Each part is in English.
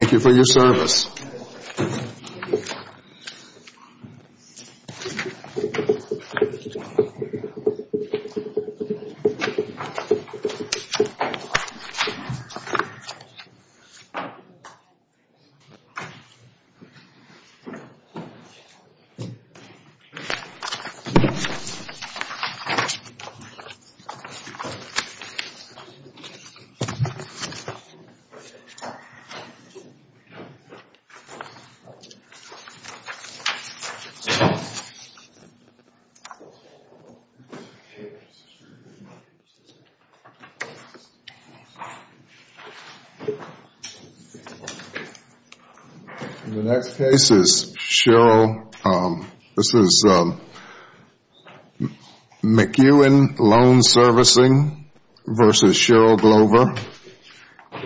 Thank you for your service. The next case is Cheryl, this is McEwen Loan Servicing v. Cheryl Glover,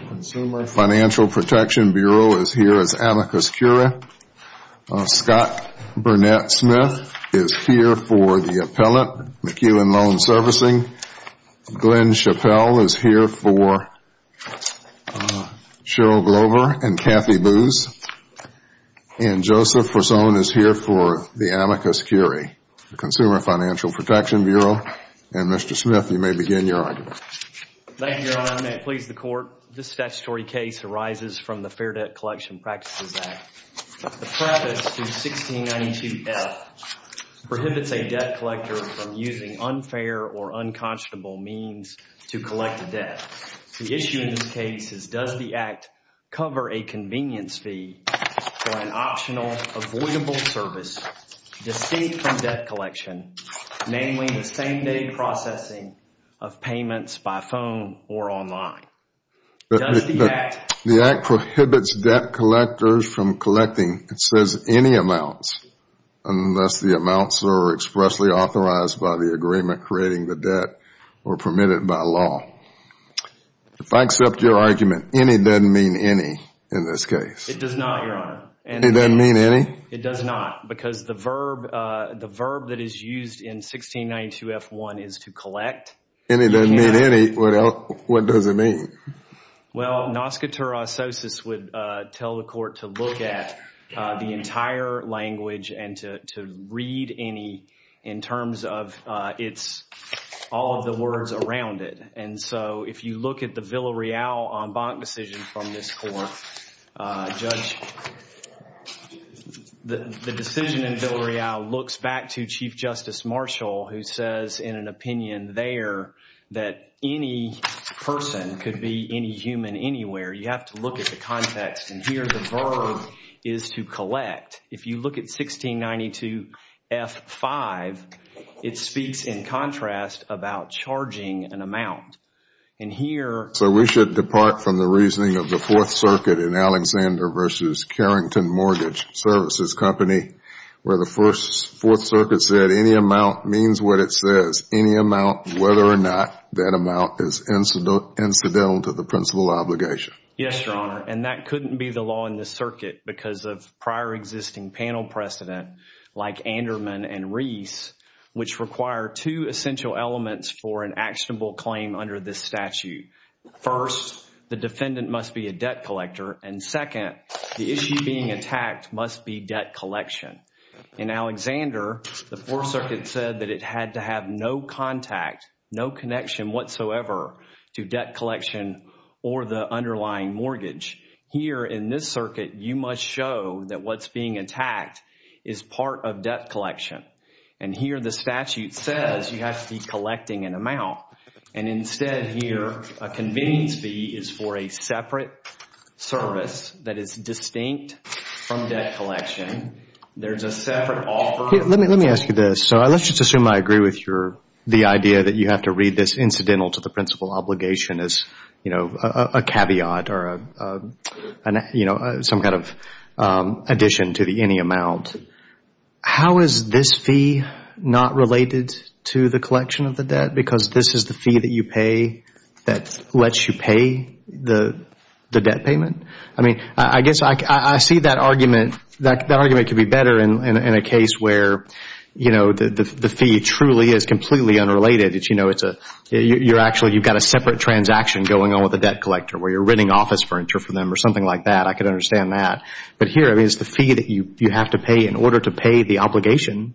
Consumer Financial Protection Bureau is here as amicus curia. Scott Burnett Smith is here for the appellant, McEwen Loan Servicing. Glenn Chappell is here for Cheryl Glover and Cathy Booze. And Joseph Forzone is here for the amicus curia, Consumer Financial Protection Bureau. And Mr. Smith, you may begin your argument. Thank you, Your Honor, and may it please the Court. This statutory case arises from the Fair Debt Collection Practices Act. The preface to 1692F prohibits a debt collector from using unfair or unconscionable means to collect a debt. The issue in this case is does the act cover a convenience fee for an optional avoidable service distinct from debt collection, namely the same-day processing of payments by phone or online? Does the act prohibit debt collectors from collecting, it says, any amounts unless the amounts are expressly authorized by the agreement creating the debt or permitted by law. If I accept your argument, any doesn't mean any in this case. It does not, Your Honor. Any doesn't mean any? It does not because the verb that is used in 1692F1 is to collect. Any doesn't mean any. What does it mean? Well, nascatur asosus would tell the Court to look at the entire language and to read any in terms of all of the words around it. And so if you look at the Villareal en banc decision from this Court, Judge, the decision in Villareal looks back to Chief Justice Marshall who says in an opinion there that any person could be any human anywhere. You have to look at the context and here the verb is to collect. If you look at 1692F5, it speaks in contrast about charging an amount. And here So we should depart from the reasoning of the Fourth Circuit in Alexander v. Carrington Mortgage Services Company where the Fourth Circuit said any amount means what it says. Any amount, whether or not that amount is incidental to the principal obligation. Yes, Your Honor. And that couldn't be the law in this circuit because of prior existing panel precedent like Anderman and Reese which require two essential elements for an actionable claim under this statute. First, the defendant must be a debt collector. And second, the issue being attacked must be debt collection. In Alexander, the Fourth Circuit said that it had to have no contact, no connection whatsoever to debt collection or the underlying mortgage. Here in this circuit, you must show that what's being attacked is part of debt collection. And here the statute says you have to be collecting an amount. And instead here, a convenience fee is for a separate service that is distinct from debt collection. There's a separate offer. Let me ask you this. So let's just assume I agree with your, the idea that you have to read this incidental to the principal obligation as, you know, a caveat or a, you know, some kind of addition to the any amount. How is this fee not related to the collection of the debt? Because this is the fee that you pay that lets you pay the debt payment? I mean, I guess I see that argument, that argument could be better in a case where, you know, the fee truly is completely unrelated. You know, it's a, you're actually, you've got a separate transaction going on with the debt collector where you're renting office furniture from them or something like that. I could understand that. But here, I mean, it's the fee that you have to pay in order to pay the obligation.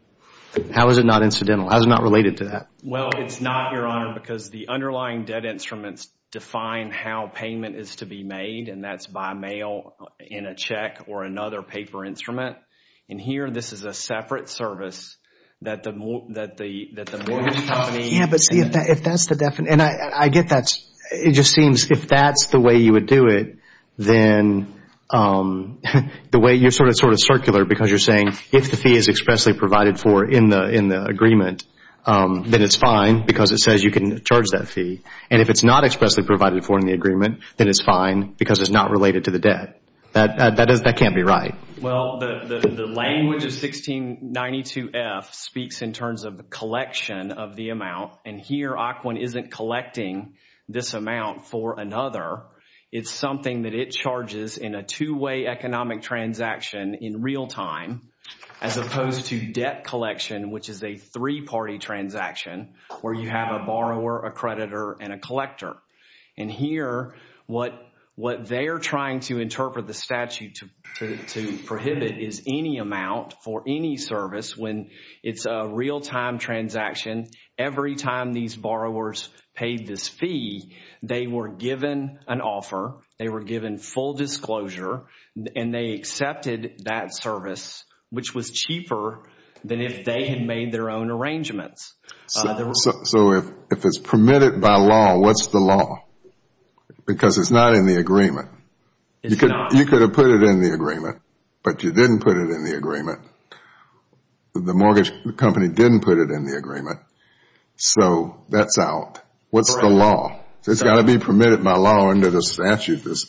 How is it not incidental? How is it not related to that? Well, it's not, Your Honor, because the underlying debt instruments define how payment is to be made, and that's by mail, in a check, or another paper instrument. In here, this is a separate service that the mortgage company. Yeah, but see, if that's the definition, and I get that, it just seems if that's the way you would do it, then the way, you're sort of circular because you're saying if the fee is expressly provided for in the agreement, then it's fine because it says you can charge that fee. And if it's not expressly provided for in the agreement, then it's fine because it's not related to the debt. That can't be right. Well, the language of 1692F speaks in terms of the collection of the amount, and here when OCOQUAN isn't collecting this amount for another, it's something that it charges in a two-way economic transaction in real time, as opposed to debt collection, which is a three-party transaction, where you have a borrower, a creditor, and a collector. And here, what they're trying to interpret the statute to prohibit is any amount for any service when it's a real-time transaction, every time these borrowers paid this fee, they were given an offer, they were given full disclosure, and they accepted that service, which was cheaper than if they had made their own arrangements. So if it's permitted by law, what's the law? Because it's not in the agreement. It's not. You could have put it in the agreement, but you didn't put it in the agreement. The mortgage company didn't put it in the agreement, so that's out. What's the law? It's got to be permitted by law under the statute, this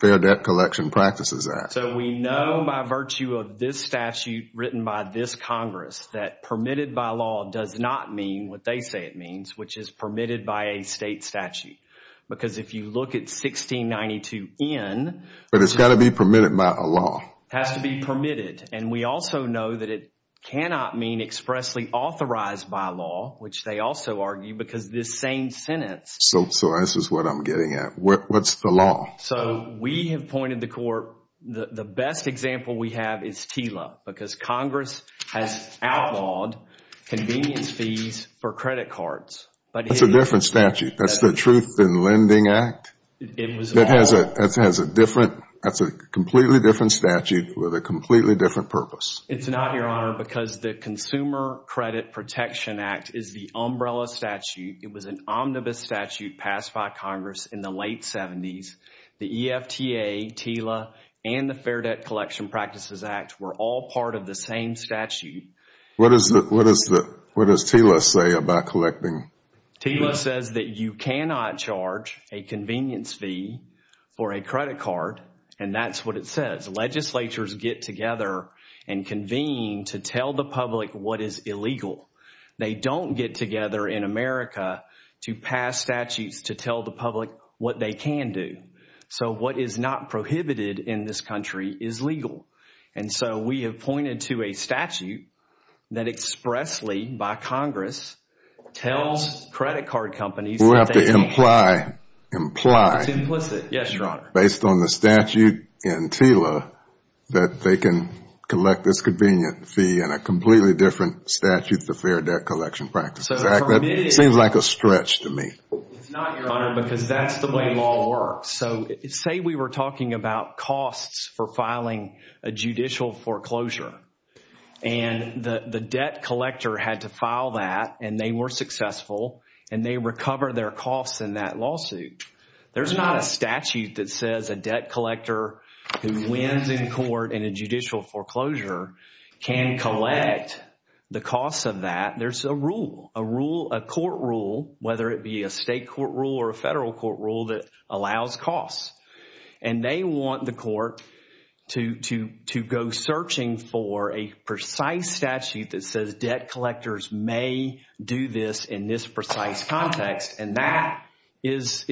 Fair Debt Collection Practices Act. So we know by virtue of this statute written by this Congress that permitted by law does not mean what they say it means, which is permitted by a state statute. Because if you look at 1692N, But it's got to be permitted by a law. It has to be permitted, and we also know that it cannot mean expressly authorized by law, which they also argue, because this same sentence, So this is what I'm getting at. What's the law? So we have pointed the court, the best example we have is TILA, because Congress has outlawed convenience fees for credit cards. That's a different statute. That's the Truth in Lending Act? It has a different, that's a completely different statute with a completely different purpose. It's not, Your Honor, because the Consumer Credit Protection Act is the umbrella statute. It was an omnibus statute passed by Congress in the late 70s. The EFTA, TILA, and the Fair Debt Collection Practices Act were all part of the same statute. What does TILA say about collecting? TILA says that you cannot charge a convenience fee for a credit card, and that's what it says. Legislatures get together and convene to tell the public what is illegal. They don't get together in America to pass statutes to tell the public what they can do. So what is not prohibited in this country is legal. And so we have pointed to a statute that expressly, by Congress, tells credit card companies that they can. We'll have to imply, imply. It's implicit, yes, Your Honor. Based on the statute in TILA, that they can collect this convenient fee in a completely different statute, the Fair Debt Collection Practices Act. That seems like a stretch to me. It's not, Your Honor, because that's the way law works. So say we were talking about costs for filing a judicial foreclosure. And the debt collector had to file that, and they were successful, and they recover their costs in that lawsuit. There's not a statute that says a debt collector who wins in court in a judicial foreclosure can collect the costs of that. There's a rule, a court rule, whether it be a state court rule or a federal court rule that allows costs. And they want the court to go searching for a precise statute that says debt collectors may do this in this precise context. And that is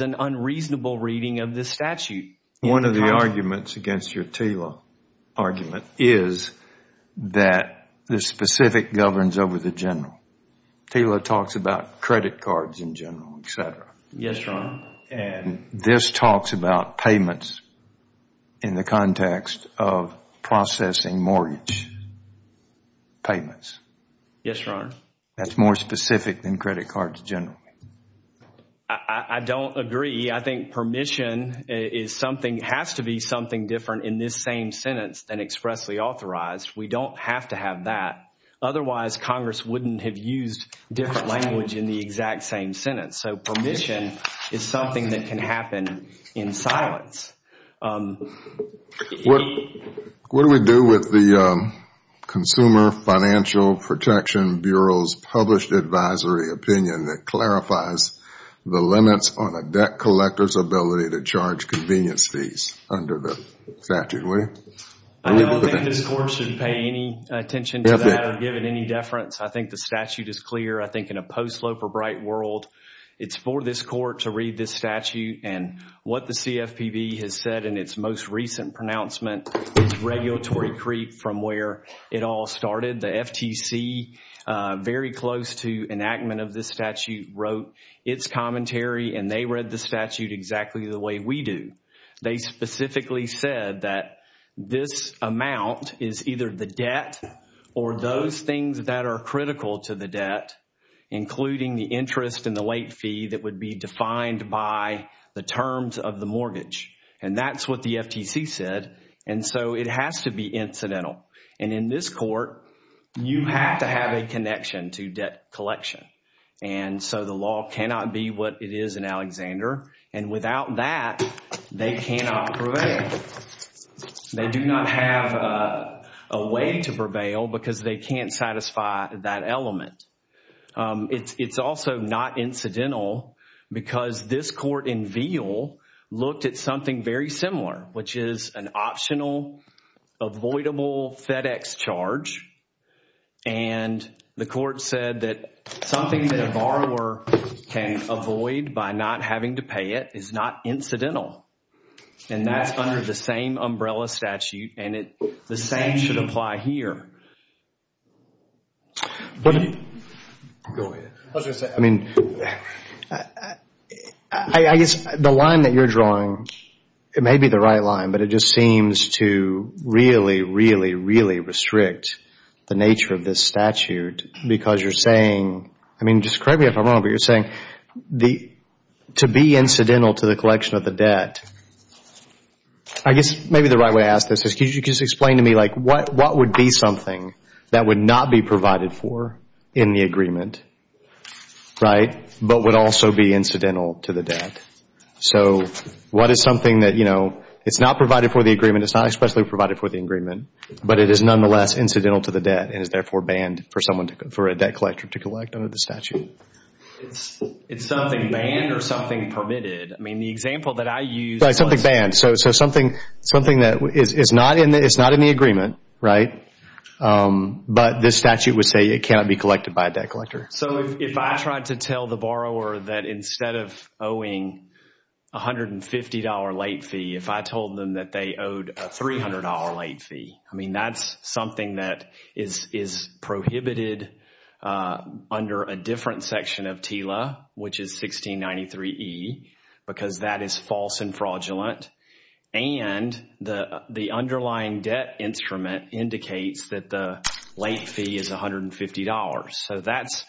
an unreasonable reading of this statute. One of the arguments against your TILA argument is that the specific governs over the general. TILA talks about credit cards in general, etc. Yes, Your Honor. And this talks about payments in the context of processing mortgage payments. Yes, Your Honor. That's more specific than credit cards generally. I don't agree. I think permission has to be something different in this same sentence than expressly authorized. We don't have to have that. Otherwise, Congress wouldn't have used different language in the exact same sentence. So permission is something that can happen in silence. What do we do with the Consumer Financial Protection Bureau's published advisory opinion that clarifies the limits on a debt collector's ability to charge convenience fees under the statute? I don't think this court should pay any attention to that or give it any deference. I think the statute is clear. I think in a post-Loper Bright world, it's for this court to read this statute. And what the CFPB has said in its most recent pronouncement is regulatory creep from where it all started. The FTC, very close to enactment of this statute, wrote its commentary. And they read the statute exactly the way we do. They specifically said that this amount is either the debt or those things that are critical to the debt, including the interest and the late fee that would be defined by the terms of the mortgage. And that's what the FTC said. And so it has to be incidental. And in this court, you have to have a connection to debt collection. And so the law cannot be what it is in Alexander. And without that, they cannot prevail. They do not have a way to prevail because they can't satisfy that element. It's also not incidental because this court in Veal looked at something very similar, which is an optional avoidable FedEx charge. And the court said that something that a borrower can avoid by not having to pay it is not incidental. And that's under the same umbrella statute. And the same should apply here. I guess the line that you're drawing, it may be the right line, but it just seems to really, really, really restrict the nature of this statute. Because you're saying, I mean, just correct me if I'm wrong, but you're saying to be incidental to the collection of the debt, I guess maybe the right way to ask this is could you just explain to me like what would be something that would not be provided for in the agreement, right, but would also be incidental to the debt? So what is something that, you know, it's not provided for the agreement, it's not especially provided for the agreement, but it is nonetheless incidental to the debt and is therefore banned for a debt collector to collect under the statute? It's something banned or something permitted. I mean, the example that I use... So something that is not in the agreement, right, but this statute would say it cannot be collected by a debt collector. So if I tried to tell the borrower that instead of owing a $150 late fee, if I told them that they owed a $300 late fee, I mean, that's something that is prohibited under a different section of TILA, which is 1693E, because that is false and fraudulent. And the underlying debt instrument indicates that the late fee is $150. So that's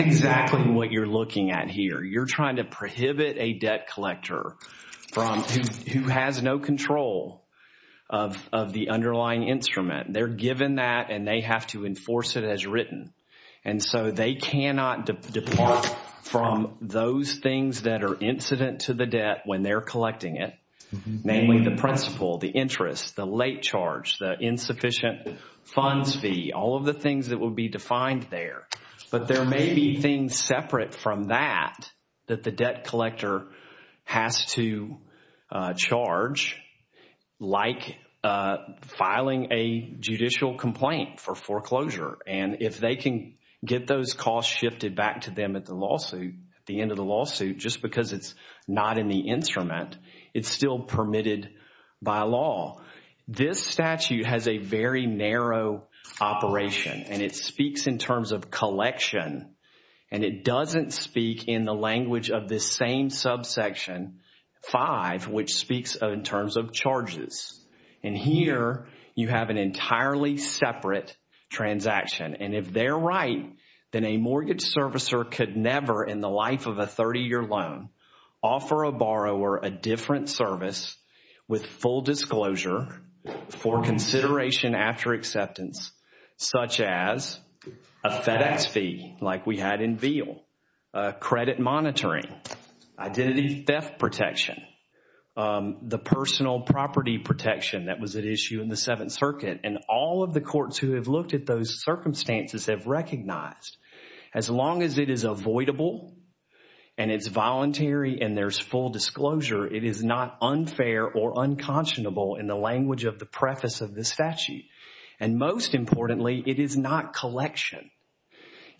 exactly what you're looking at here. You're trying to prohibit a debt collector who has no control of the underlying instrument. They're given that and they have to enforce it as written. And so they cannot depart from those things that are incident to the debt when they're collecting it, namely the principal, the interest, the late charge, the insufficient funds fee, all of the things that would be defined there. But there may be things separate from that that the debt collector has to charge, like filing a judicial complaint for foreclosure. And if they can get those costs shifted back to them at the lawsuit, at the end of the lawsuit, just because it's not in the instrument, it's still permitted by law. This statute has a very narrow operation and it speaks in terms of collection. And it doesn't speak in the language of this same subsection 5, which speaks in terms of charges. And here you have an entirely separate transaction. And if they're right, then a mortgage servicer could never in the life of a 30-year loan offer a borrower a different service with full disclosure for consideration after acceptance, such as a FedEx fee like we had in Veal, credit monitoring, identity theft protection, the personal property protection that was at issue in the Seventh Circuit. And all of the courts who have looked at those circumstances have recognized, as long as it is avoidable and it's voluntary and there's full disclosure, it is not unfair or unconscionable in the language of the preface of this statute. And most importantly, it is not collection.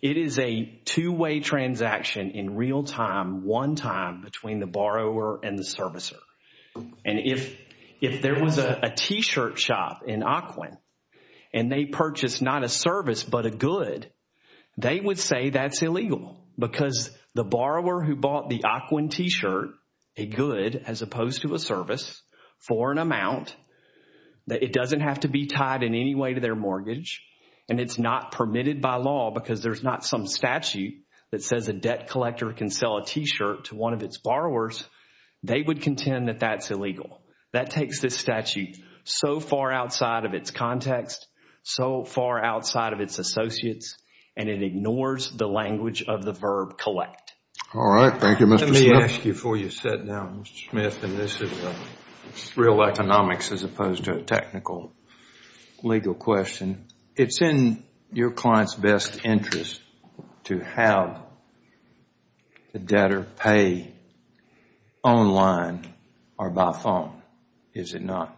It is a two-way transaction in real time, one time between the borrower and the servicer. And if there was a t-shirt shop in Occoquan and they purchased not a service but a good, they would say that's illegal because the borrower who bought the Occoquan t-shirt, a good as opposed to a service for an amount, that it doesn't have to be tied in any way to their mortgage, and it's not permitted by law because there's not some statute that says a debt collector can sell a t-shirt to one of its borrowers, they would contend that that's illegal. That takes this statute so far outside of its context, so far outside of its associates, and it ignores the language of the verb collect. All right. Thank you, Mr. Smith. Let me ask you before you sit down, Mr. Smith, and this is real economics as opposed to a technical, legal question. It's in your client's best interest to have the debtor pay online or by phone, is it not?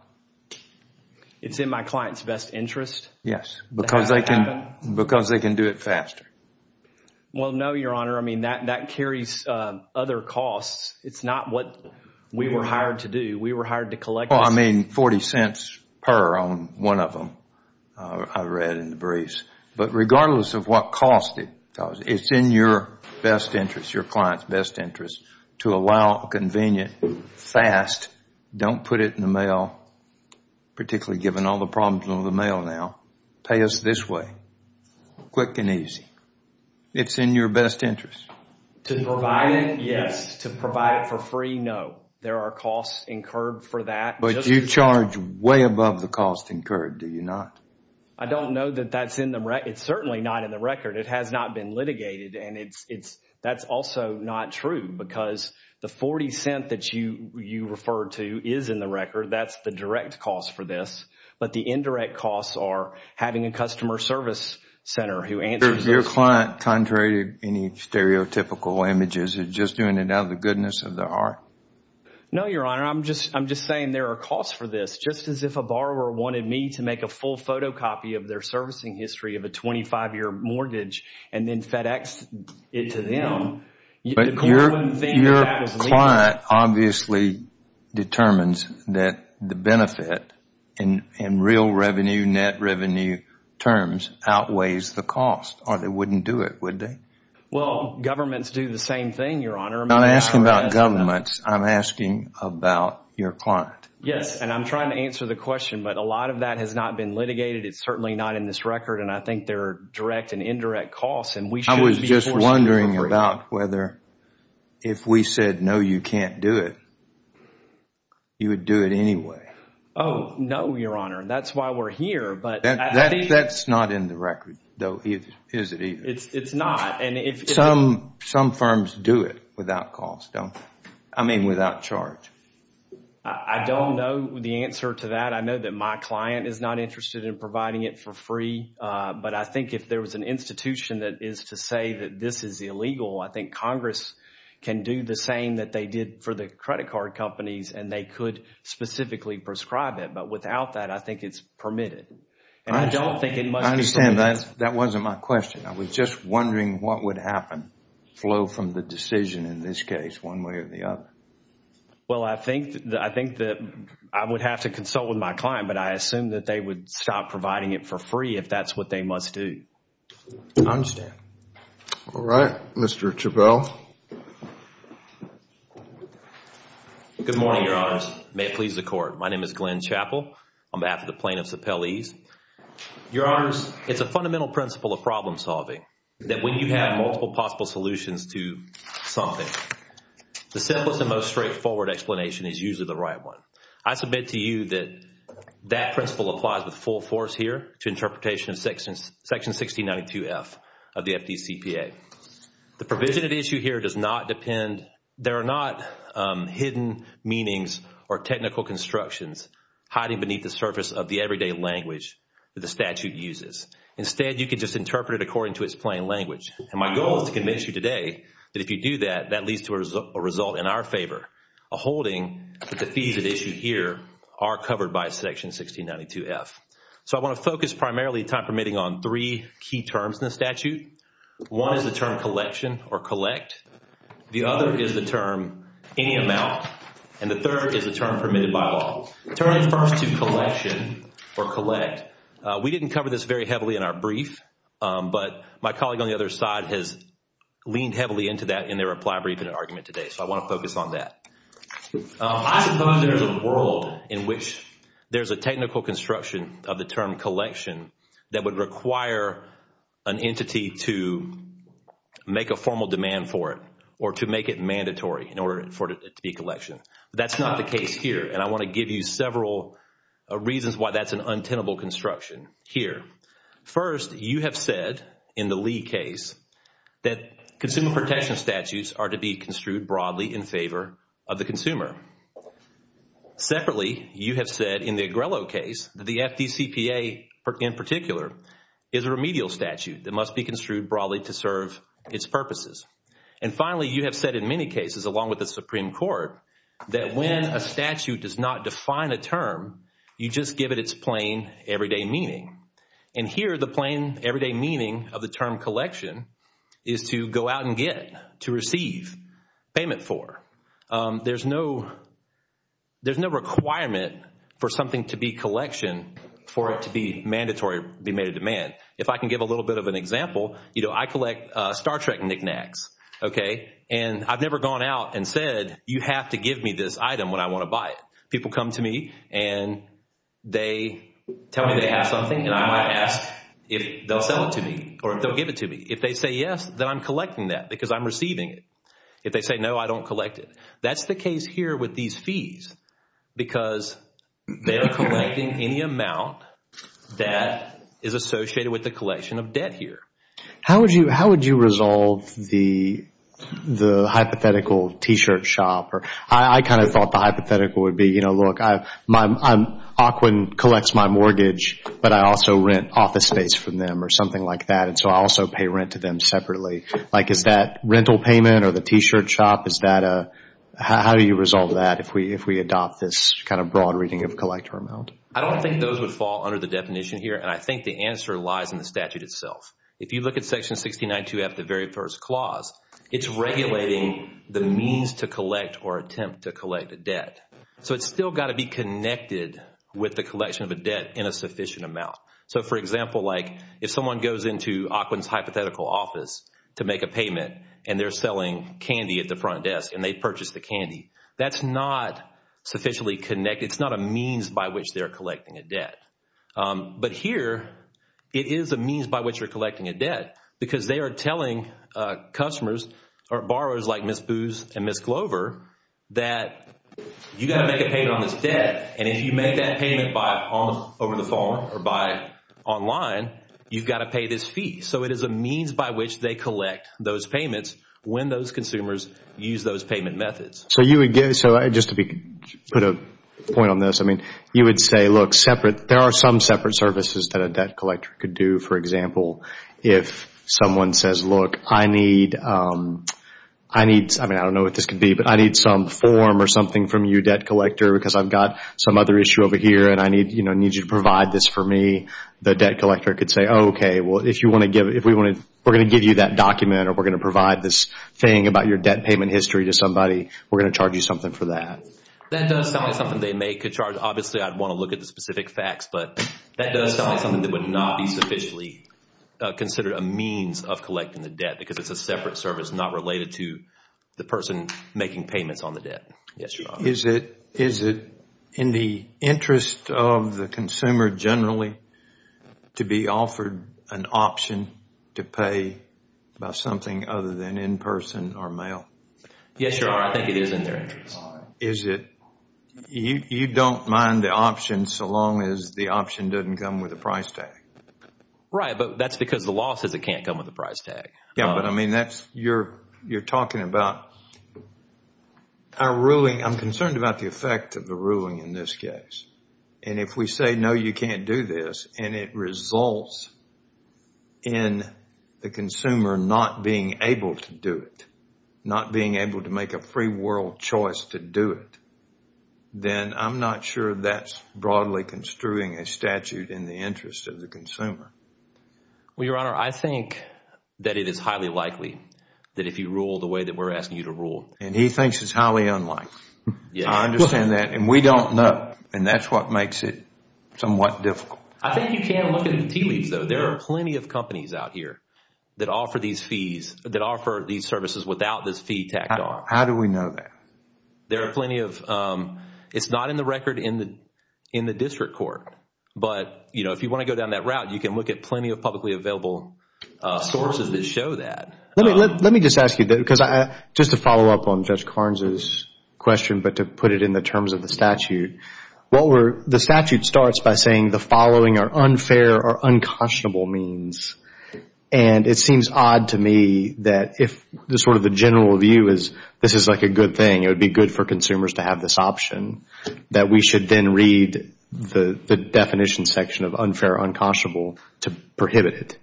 It's in my client's best interest? Yes, because they can do it faster. Well, no, Your Honor. I mean, that carries other costs. It's not what we were hired to do. We were hired to collect this. Well, I mean, 40 cents per on one of them, I read in the briefs. But regardless of what cost it, it's in your best interest, your client's best interest, to allow a convenient, fast, don't put it in the mail, particularly given all the problems with the mail now, pay us this way, quick and easy. It's in your best interest. To provide it, yes. To provide it for free, no. There are costs incurred for that. But you charge way above the cost incurred, do you not? I don't know that that's in the record. It's certainly not in the record. It has not been litigated. And that's also not true because the 40 cents that you referred to is in the record. That's the direct cost for this. But the indirect costs are having a customer service center who answers those. Your client, contrary to any stereotypical images, is just doing it out of the goodness of their heart? No, Your Honor. I'm just saying there are costs for this. Just as if a borrower wanted me to make a full photocopy of their servicing history of a 25-year mortgage and then FedEx it to them. But your client obviously determines that the benefit in real revenue, net revenue terms, outweighs the cost or they wouldn't do it, would they? Well, governments do the same thing, Your Honor. I'm not asking about governments. I'm asking about your client. Yes, and I'm trying to answer the question. But a lot of that has not been litigated. It's certainly not in this record. And I think there are direct and indirect costs. I was just wondering about whether if we said, no, you can't do it, you would do it anyway? Oh, no, Your Honor. That's why we're here. That's not in the record, though, is it either? It's not. Some firms do it without cost, don't they? I mean without charge. I don't know the answer to that. I know that my client is not interested in providing it for free. But I think if there was an institution that is to say that this is illegal, I think Congress can do the same that they did for the credit card companies and they could specifically prescribe it. But without that, I think it's permitted. And I don't think it must be permitted. I understand. That wasn't my question. I was just wondering what would happen, flow from the decision in this case one way or the other. Well, I think that I would have to consult with my client, but I assume that they would stop providing it for free if that's what they must do. I understand. All right. Mr. Chabelle. Good morning, Your Honor. May it please the Court. My name is Glenn Chabelle. I'm after the plaintiff's appellees. Your Honors, it's a fundamental principle of problem solving that when you have multiple possible solutions to something, the simplest and most straightforward explanation is usually the right one. I submit to you that that principle applies with full force here to interpretation of Section 1692F of the FDCPA. The provision at issue here does not depend, there are not hidden meanings or technical constructions hiding beneath the surface of the everyday language that the statute uses. Instead, you can just interpret it according to its plain language. And my goal is to convince you today that if you do that, that leads to a result in our favor, a holding that the fees at issue here are covered by Section 1692F. So I want to focus primarily, time permitting, on three key terms in the statute. One is the term collection or collect. The other is the term any amount. And the third is the term permitted by law. Turning first to collection or collect, we didn't cover this very heavily in our brief, but my colleague on the other side has leaned heavily into that in their reply brief and argument today, so I want to focus on that. I suppose there's a world in which there's a technical construction of the term collection that would require an entity to make a formal demand for it or to make it mandatory in order for it to be collection. That's not the case here, and I want to give you several reasons why that's an untenable construction here. First, you have said in the Lee case that consumer protection statutes are to be construed broadly in favor of the consumer. Separately, you have said in the Agrello case that the FDCPA in particular is a remedial statute that must be construed broadly to serve its purposes. And finally, you have said in many cases, along with the Supreme Court, that when a statute does not define a term, you just give it its plain everyday meaning. And here, the plain everyday meaning of the term collection is to go out and get, to receive, payment for. There's no requirement for something to be collection for it to be mandatory, be made a demand. If I can give a little bit of an example, I collect Star Trek knickknacks, okay, and I've never gone out and said, you have to give me this item when I want to buy it. People come to me and they tell me they have something, and I might ask if they'll sell it to me or if they'll give it to me. If they say yes, then I'm collecting that because I'm receiving it. If they say no, I don't collect it. That's the case here with these fees because they are collecting any amount that is associated with the collection of debt here. How would you resolve the hypothetical T-shirt shop? I kind of thought the hypothetical would be, you know, look, I'm – Aukwin collects my mortgage, but I also rent office space from them or something like that, and so I also pay rent to them separately. Like is that rental payment or the T-shirt shop? How do you resolve that if we adopt this kind of broad reading of collector amount? I don't think those would fall under the definition here, and I think the answer lies in the statute itself. If you look at Section 69-2F, the very first clause, it's regulating the means to collect or attempt to collect a debt. So it's still got to be connected with the collection of a debt in a sufficient amount. So, for example, like if someone goes into Aukwin's hypothetical office to make a payment and they're selling candy at the front desk and they purchase the candy, that's not sufficiently connected. It's not a means by which they're collecting a debt. But here it is a means by which you're collecting a debt because they are telling customers or borrowers like Ms. Booz and Ms. Glover that you got to make a payment on this debt, and if you make that payment over the phone or online, you've got to pay this fee. So it is a means by which they collect those payments when those consumers use those payment methods. So just to put a point on this, you would say, look, there are some separate services that a debt collector could do. For example, if someone says, look, I need, I don't know what this could be, but I need some form or something from you, debt collector, because I've got some other issue over here and I need you to provide this for me, the debt collector could say, okay, well, if we're going to give you that document or we're going to provide this thing about your debt payment history to somebody, we're going to charge you something for that. That does sound like something they make a charge. Obviously, I'd want to look at the specific facts, but that does sound like something that would not be sufficiently considered a means of collecting the debt because it's a separate service, not related to the person making payments on the debt. Yes, Your Honor. Is it in the interest of the consumer generally to be offered an option to pay by something other than in person or mail? Yes, Your Honor, I think it is in their interest. Is it, you don't mind the option so long as the option doesn't come with a price tag? Right, but that's because the law says it can't come with a price tag. Yes, but I mean, you're talking about our ruling. I'm concerned about the effect of the ruling in this case. If we say, no, you can't do this, and it results in the consumer not being able to do it, not being able to make a free world choice to do it, then I'm not sure that's broadly construing a statute in the interest of the consumer. Well, Your Honor, I think that it is highly likely that if you rule the way that we're asking you to rule... And he thinks it's highly unlikely. I understand that, and we don't know, and that's what makes it somewhat difficult. I think you can look at the tea leaves, though. There are plenty of companies out here that offer these services without this fee tacked on. How do we know that? There are plenty of... it's not in the record in the district court, but if you want to go down that route, you can look at plenty of publicly available sources that show that. Let me just ask you, because just to follow up on Judge Carnes' question, but to put it in the terms of the statute, the statute starts by saying the following are unfair or unconscionable means, and it seems odd to me that if the general view is this is a good thing, it would be good for consumers to have this option, that we should then read the definition section of unfair or unconscionable to prohibit it,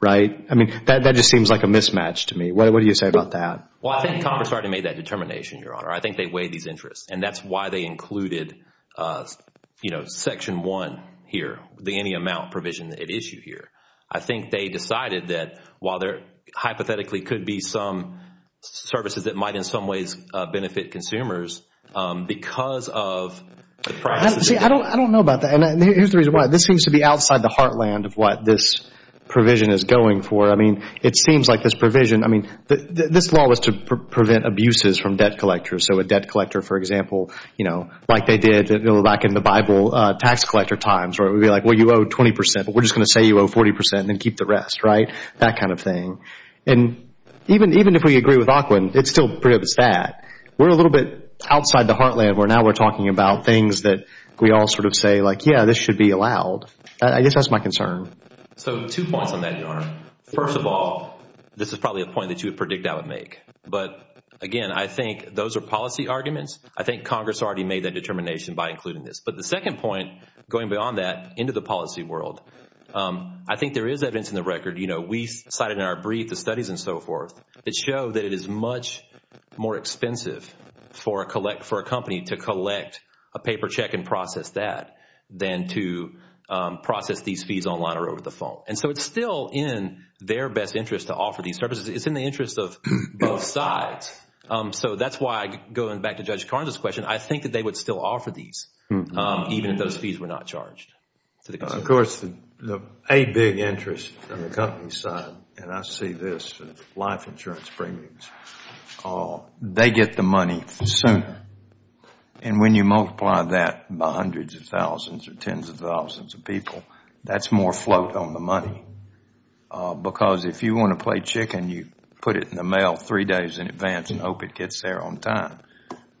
right? I mean, that just seems like a mismatch to me. What do you say about that? Well, I think Congress already made that determination, Your Honor. I think they weighed these interests, and that's why they included Section 1 here, the any amount provision it issued here. I think they decided that while there hypothetically could be some services that might in some ways benefit consumers, because of the process. See, I don't know about that, and here's the reason why. This seems to be outside the heartland of what this provision is going for. I mean, it seems like this provision, I mean, this law was to prevent abuses from debt collectors, so a debt collector, for example, you know, like they did back in the Bible tax collector times, where it would be like, well, you owe 20 percent, but we're just going to say you owe 40 percent and then keep the rest, right, that kind of thing. And even if we agree with Auckland, it still prohibits that. We're a little bit outside the heartland where now we're talking about things that we all sort of say, like, yeah, this should be allowed. I guess that's my concern. So two points on that, Your Honor. First of all, this is probably a point that you would predict I would make. But, again, I think those are policy arguments. I think Congress already made that determination by including this. But the second point, going beyond that into the policy world, I think there is evidence in the record. You know, we cited in our brief the studies and so forth that show that it is much more expensive for a company to collect a paper check and process that than to process these fees online or over the phone. And so it's still in their best interest to offer these services. It's in the interest of both sides. So that's why, going back to Judge Carnes' question, I think that they would still offer these, even if those fees were not charged. Of course, a big interest on the company side, and I see this in life insurance premiums, they get the money sooner. And when you multiply that by hundreds of thousands or tens of thousands of people, that's more float on the money. Because if you want to play chicken, you put it in the mail three days in advance and hope it gets there on time.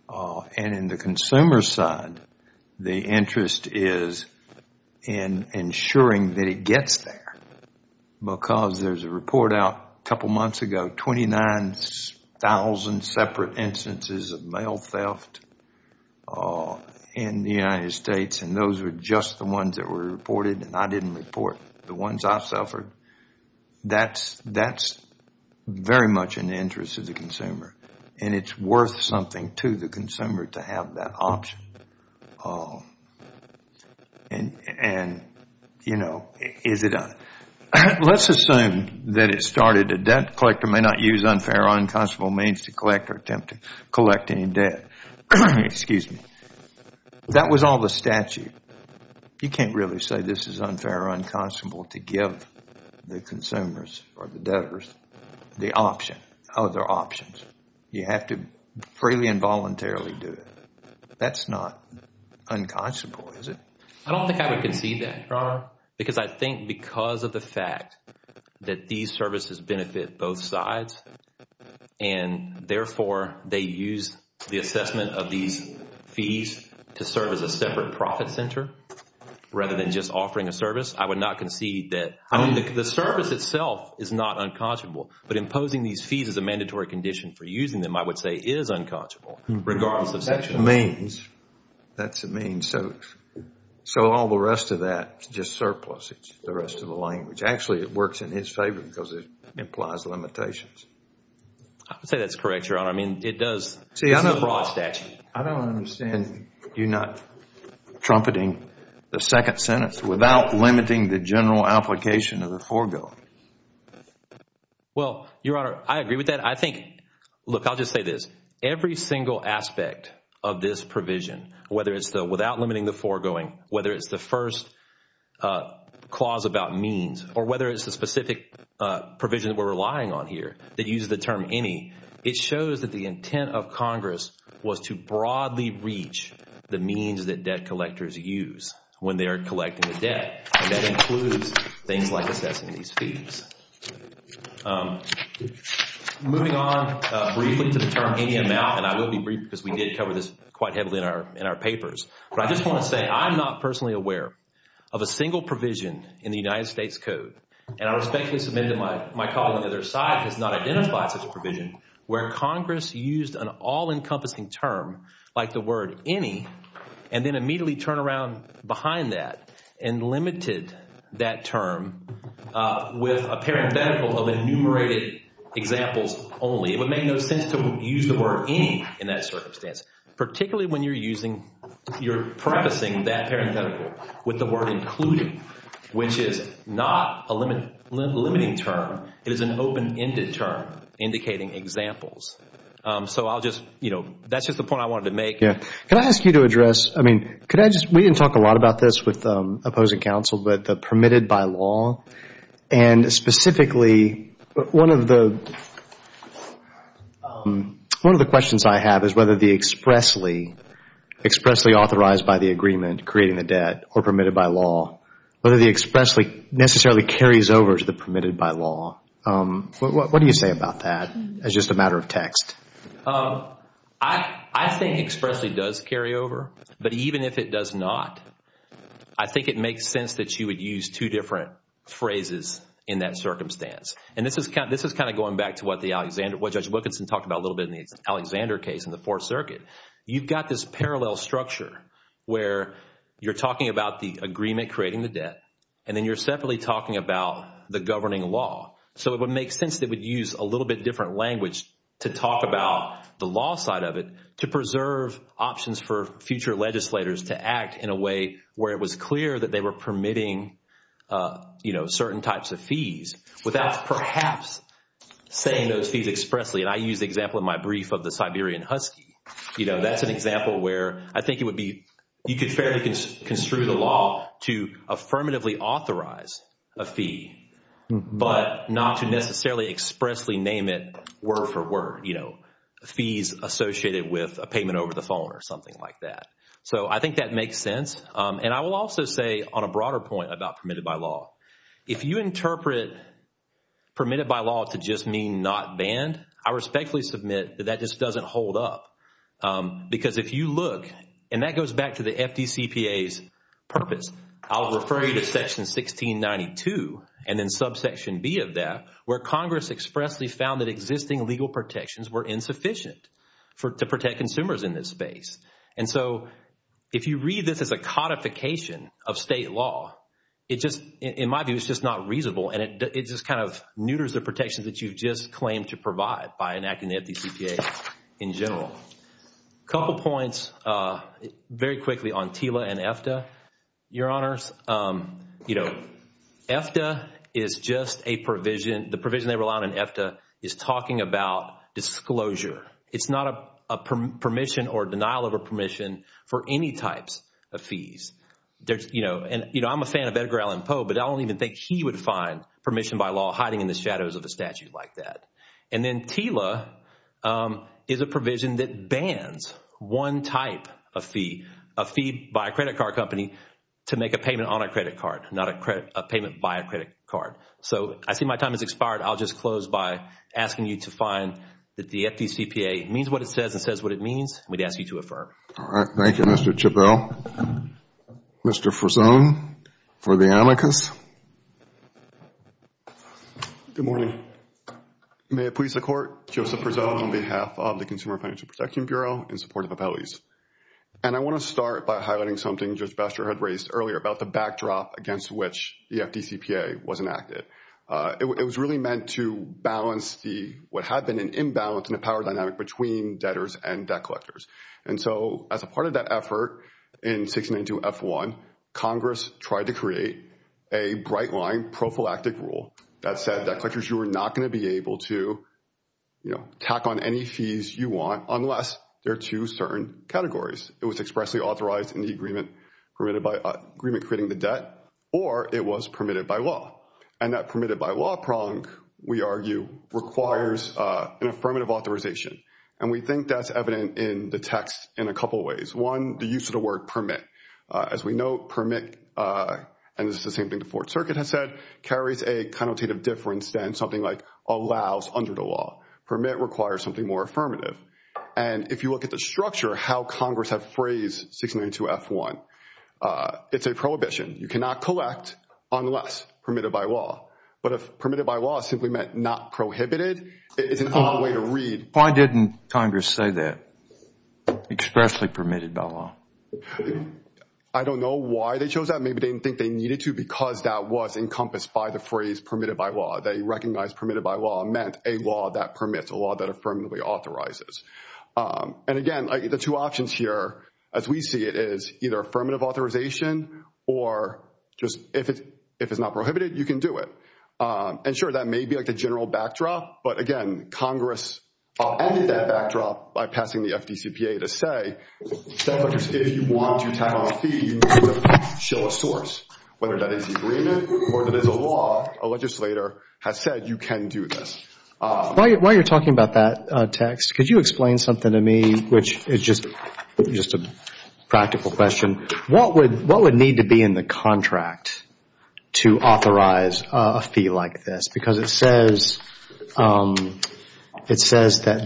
And in the consumer side, the interest is in ensuring that it gets there. Because there's a report out a couple months ago, 29,000 separate instances of mail theft in the United States, and those were just the ones that were reported, and I didn't report the ones I suffered. That's very much in the interest of the consumer. And it's worth something to the consumer to have that option. And, you know, let's assume that it started, a debt collector may not use unfair or unconscionable means to collect or attempt to collect any debt. Excuse me. That was all the statute. You can't really say this is unfair or unconscionable to give the consumers or the debtors the option, other options. You have to freely and voluntarily do it. That's not unconscionable, is it? I don't think I would concede that, Your Honor, because I think because of the fact that these services benefit both sides and therefore they use the assessment of these fees to serve as a separate profit center rather than just offering a service, I would not concede that. I mean, the service itself is not unconscionable, but imposing these fees as a mandatory condition for using them I would say is unconscionable, regardless of section. That's the means. So all the rest of that is just surplus. It's just the rest of the language. Actually, it works in his favor because it implies limitations. I would say that's correct, Your Honor. I mean, it does. This is a broad statute. I don't understand you not trumpeting the second sentence without limiting the general application of the foregoing. Well, Your Honor, I agree with that. Look, I'll just say this. Every single aspect of this provision, whether it's without limiting the foregoing, whether it's the first clause about means, or whether it's the specific provision that we're relying on here that uses the term any, it shows that the intent of Congress was to broadly reach the means that debt collectors use when they are collecting the debt, and that includes things like assessing these fees. Moving on briefly to the term any amount, and I will be brief because we did cover this quite heavily in our papers, but I just want to say I'm not personally aware of a single provision in the United States Code, and I respectfully submit that my colleague on the other side has not identified such a provision where Congress used an all-encompassing term like the word any and then immediately turned around behind that and limited that term with a parenthetical of enumerated examples only. It would make no sense to use the word any in that circumstance, particularly when you're using, you're prefacing that parenthetical with the word including, which is not a limiting term. It is an open-ended term indicating examples. So I'll just, you know, that's just the point I wanted to make. Yeah. Can I ask you to address, I mean, could I just, we didn't talk a lot about this with opposing counsel, but the permitted by law, and specifically one of the questions I have is whether the expressly, expressly authorized by the agreement creating the debt or permitted by law, whether the expressly necessarily carries over to the permitted by law. What do you say about that as just a matter of text? I think expressly does carry over, but even if it does not, I think it makes sense that you would use two different phrases in that circumstance. And this is kind of going back to what Judge Wilkinson talked about a little bit in the Alexander case in the Fourth Circuit. You've got this parallel structure where you're talking about the agreement creating the debt and then you're separately talking about the governing law. So it would make sense that we'd use a little bit different language to talk about the law side of it to preserve options for future legislators to act in a way where it was clear that they were permitting, you know, certain types of fees without perhaps saying those fees expressly. And I use the example in my brief of the Siberian Husky. You know, that's an example where I think it would be, you could fairly construe the law to affirmatively authorize a fee, but not to necessarily expressly name it word for word, you know, fees associated with a payment over the phone or something like that. So I think that makes sense. And I will also say on a broader point about permitted by law, if you interpret permitted by law to just mean not banned, I respectfully submit that that just doesn't hold up. Because if you look, and that goes back to the FDCPA's purpose, I'll refer you to section 1692 and then subsection B of that, where Congress expressly found that existing legal protections were insufficient to protect consumers in this space. And so if you read this as a codification of state law, it just, in my view, it's just not reasonable and it just kind of neuters the protections that you've just claimed to provide by enacting the FDCPA in general. Couple points very quickly on TILA and EFTA. Your Honors, you know, EFTA is just a provision. The provision they rely on in EFTA is talking about disclosure. It's not a permission or denial of a permission for any types of fees. You know, I'm a fan of Edgar Allan Poe, but I don't even think he would find permission by law hiding in the shadows of a statute like that. And then TILA is a provision that bans one type of fee, a fee by a credit card company to make a payment on a credit card, not a payment by a credit card. So I see my time has expired. I'll just close by asking you to find that the FDCPA means what it says and says what it means, and we'd ask you to affirm. All right. Thank you, Mr. Chabell. Mr. Frazone for the amicus. Good morning. May it please the Court, Joseph Frazone on behalf of the Consumer Financial Protection Bureau in support of the penalties. And I want to start by highlighting something Judge Baxter had raised earlier about the backdrop against which the FDCPA was enacted. It was really meant to balance what had been an imbalance in the power dynamic between debtors and debt collectors. And so as a part of that effort in 1692 F1, Congress tried to create a bright-line prophylactic rule that said that collectors were not going to be able to, you know, tack on any fees you want unless they're two certain categories. It was expressly authorized in the agreement, permitted by agreement creating the debt, or it was permitted by law. And that permitted by law prong, we argue, requires an affirmative authorization. And we think that's evident in the text in a couple of ways. One, the use of the word permit. As we know, permit, and this is the same thing the Fourth Circuit has said, carries a connotative difference than something like allows under the law. Permit requires something more affirmative. And if you look at the structure, how Congress has phrased 1692 F1, it's a prohibition. You cannot collect unless permitted by law. But if permitted by law simply meant not prohibited, it's an odd way to read. Why didn't Congress say that, expressly permitted by law? I don't know why they chose that. Maybe they didn't think they needed to because that was encompassed by the phrase permitted by law. They recognized permitted by law meant a law that permits, a law that affirmatively authorizes. And, again, the two options here, as we see it, is either affirmative authorization or just if it's not prohibited, you can do it. And, sure, that may be like the general backdrop. But, again, Congress ended that backdrop by passing the FDCPA to say, if you want to tap on a fee, you need to show a source, whether that is agreement or that is a law, a legislator has said you can do this. While you're talking about that, Tex, could you explain something to me, which is just a practical question. What would need to be in the contract to authorize a fee like this? Because it says that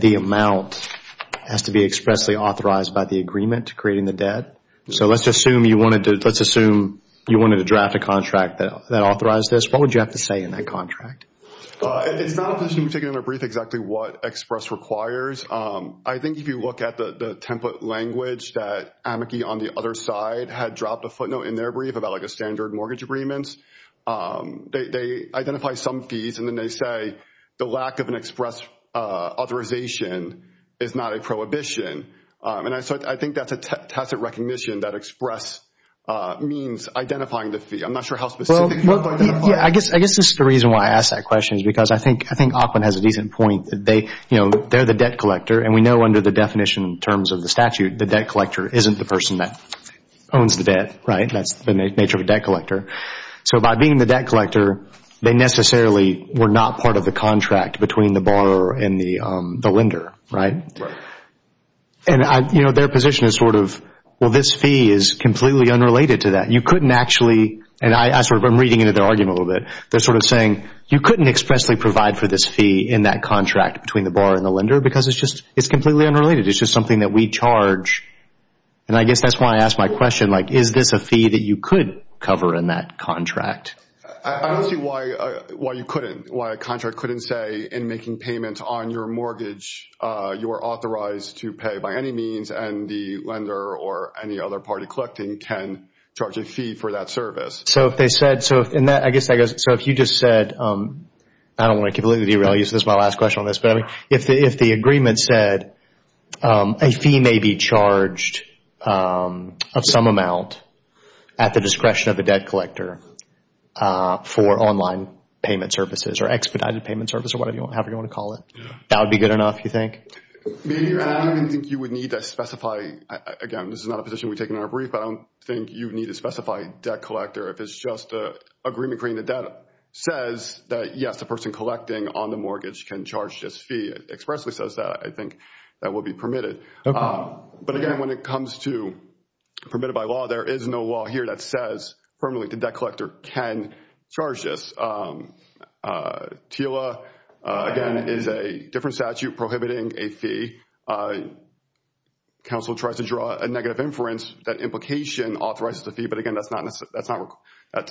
the amount has to be expressly authorized by the agreement to creating the debt. So let's assume you wanted to draft a contract that authorized this. What would you have to say in that contract? It's not a position we've taken in our brief exactly what express requires. I think if you look at the template language that amici on the other side had dropped a footnote in their brief about like a standard mortgage agreement, they identify some fees and then they say the lack of an express authorization is not a prohibition. And I think that's a tacit recognition that express means identifying the fee. I'm not sure how specific. I guess this is the reason why I asked that question is because I think Auckland has a decent point. They're the debt collector, and we know under the definition in terms of the statute, the debt collector isn't the person that owns the debt, right? That's the nature of a debt collector. So by being the debt collector, they necessarily were not part of the contract between the borrower and the lender, right? Right. And their position is sort of, well, this fee is completely unrelated to that. You couldn't actually, and I'm reading into their argument a little bit. They're sort of saying you couldn't expressly provide for this fee in that contract between the borrower and the lender because it's just completely unrelated. It's just something that we charge. And I guess that's why I asked my question, like, is this a fee that you could cover in that contract? I don't see why you couldn't, why a contract couldn't say, in making payments on your mortgage, you are authorized to pay by any means, and the lender or any other party collecting can charge a fee for that service. So if they said, and I guess that goes, so if you just said, I don't want to completely derail you, so this is my last question on this, but if the agreement said a fee may be charged of some amount at the discretion of the debt collector for online payment services or expedited payment services or whatever you want to call it, that would be good enough, you think? I don't think you would need to specify. Again, this is not a position we take in our brief, but I don't think you need to specify debt collector. If it's just an agreement creating the debt says that, yes, a person collecting on the mortgage can charge this fee, expressly says that, I think that would be permitted. But, again, when it comes to permitted by law, there is no law here that says permanently the debt collector can charge this. TILA, again, is a different statute prohibiting a fee. Council tries to draw a negative inference that implication authorizes a fee, but, again,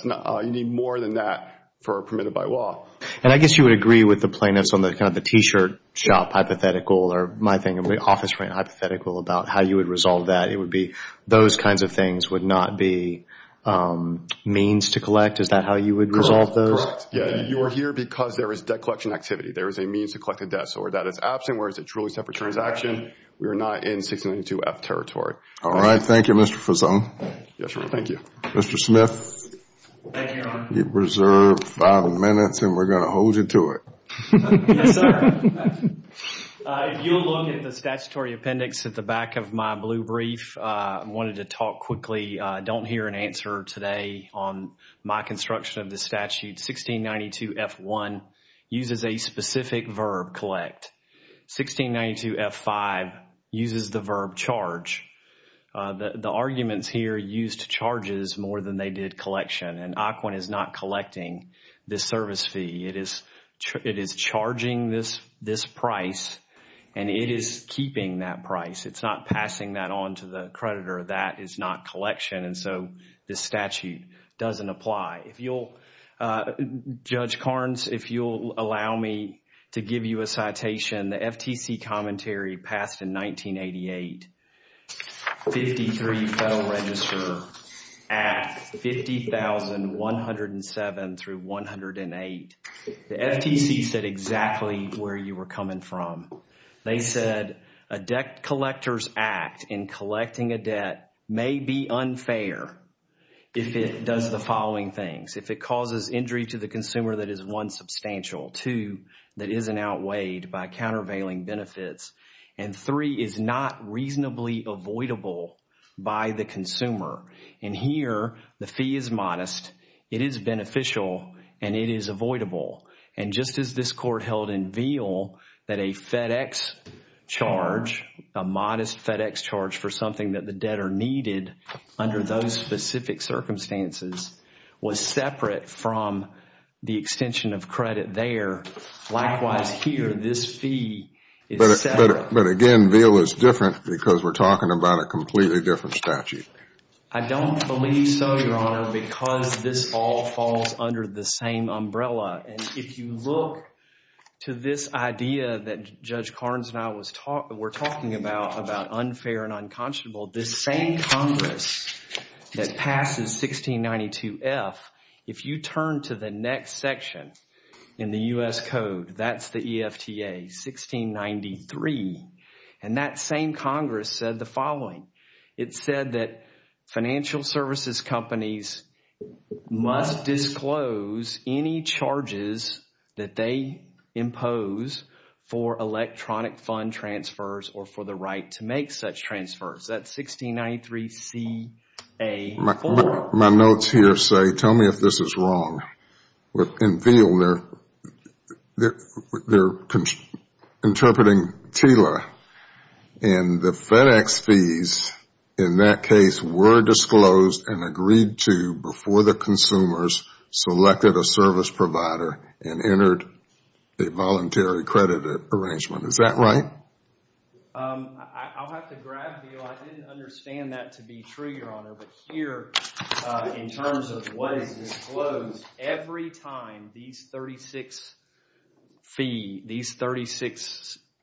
you need more than that for a permitted by law. And I guess you would agree with the plaintiffs on the T-shirt shop hypothetical or my office hypothetical about how you would resolve that. It would be those kinds of things would not be means to collect. Is that how you would resolve those? Correct. You are here because there is debt collection activity. There is a means to collect the debt. So where that is absent, where it's a truly separate transaction, we are not in 692F territory. All right. Thank you, Mr. Fuson. Yes, sir. Thank you. Mr. Smith. Thank you, Your Honor. You have reserved five minutes and we are going to hold you to it. Yes, sir. If you will look at the statutory appendix at the back of my blue brief, I wanted to talk quickly. I don't hear an answer today on my construction of the statute. 1692F1 uses a specific verb, collect. 1692F5 uses the verb, charge. The arguments here used charges more than they did collection, and AQUIN is not collecting this service fee. It is charging this price and it is keeping that price. It's not passing that on to the creditor. That is not collection, and so this statute doesn't apply. If you'll, Judge Carnes, if you'll allow me to give you a citation, the FTC commentary passed in 1988, 53 Federal Register Act 50107-108. The FTC said exactly where you were coming from. They said a debt collector's act in collecting a debt may be unfair if it does the following things. If it causes injury to the consumer that is, one, substantial, two, that isn't outweighed by countervailing benefits, and three, is not reasonably avoidable by the consumer. And here, the fee is modest, it is beneficial, and it is avoidable. And just as this court held in Veal that a FedEx charge, a modest FedEx charge for something that the debtor needed under those specific circumstances was separate from the extension of credit there, likewise here, this fee is separate. But again, Veal is different because we're talking about a completely different statute. I don't believe so, Your Honor, because this all falls under the same umbrella. And if you look to this idea that Judge Carnes and I were talking about, unfair and unconscionable, this same Congress that passes 1692F, if you turn to the next section in the U.S. Code, that's the EFTA, 1693, and that same Congress said the following. It said that financial services companies must disclose any charges that they impose for electronic fund transfers or for the right to make such transfers. That's 1693CA4. My notes here say, tell me if this is wrong. In Veal, they're interpreting TILA, and the FedEx fees in that case were disclosed and agreed to before the consumers selected a service provider and entered a voluntary credit arrangement. Is that right? I'll have to grab Veal. I didn't understand that to be true, Your Honor. But here, in terms of what is disclosed, every time these 36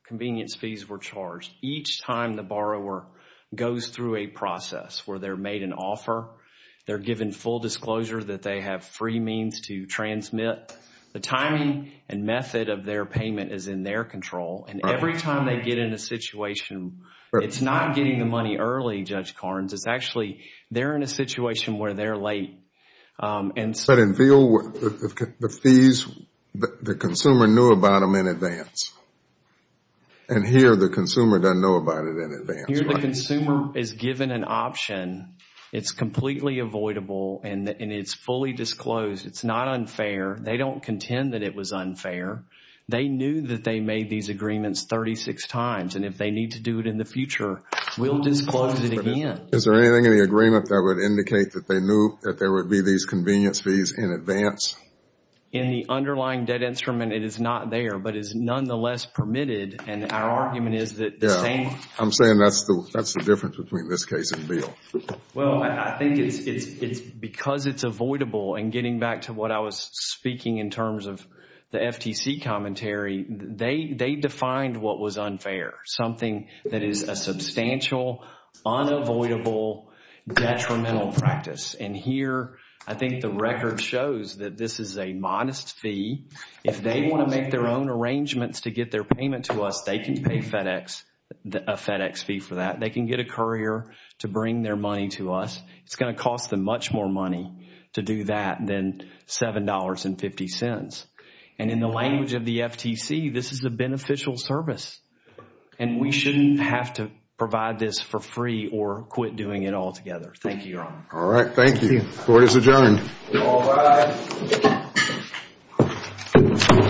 convenience fees were charged, each time the borrower goes through a process where they're made an offer, they're given full disclosure that they have free means to transmit, the timing and method of their payment is in their control. And every time they get in a situation, it's not getting the money early, Judge Carnes. It's actually they're in a situation where they're late. But in Veal, the fees, the consumer knew about them in advance. And here, the consumer doesn't know about it in advance. Here, the consumer is given an option. It's completely avoidable, and it's fully disclosed. It's not unfair. They don't contend that it was unfair. They knew that they made these agreements 36 times, and if they need to do it in the future, we'll disclose it again. Is there anything in the agreement that would indicate that they knew that there would be these convenience fees in advance? In the underlying debt instrument, it is not there, but is nonetheless permitted, and our argument is that the same. I'm saying that's the difference between this case and Veal. Well, I think it's because it's avoidable, and getting back to what I was speaking in terms of the FTC commentary, they defined what was unfair, something that is a substantial, unavoidable, detrimental practice. And here, I think the record shows that this is a modest fee. If they want to make their own arrangements to get their payment to us, they can pay a FedEx fee for that. They can get a courier to bring their money to us. It's going to cost them much more money to do that than $7.50. And in the language of the FTC, this is a beneficial service, and we shouldn't have to provide this for free or quit doing it altogether. Thank you, Your Honor. All right, thank you. Court is adjourned. All rise.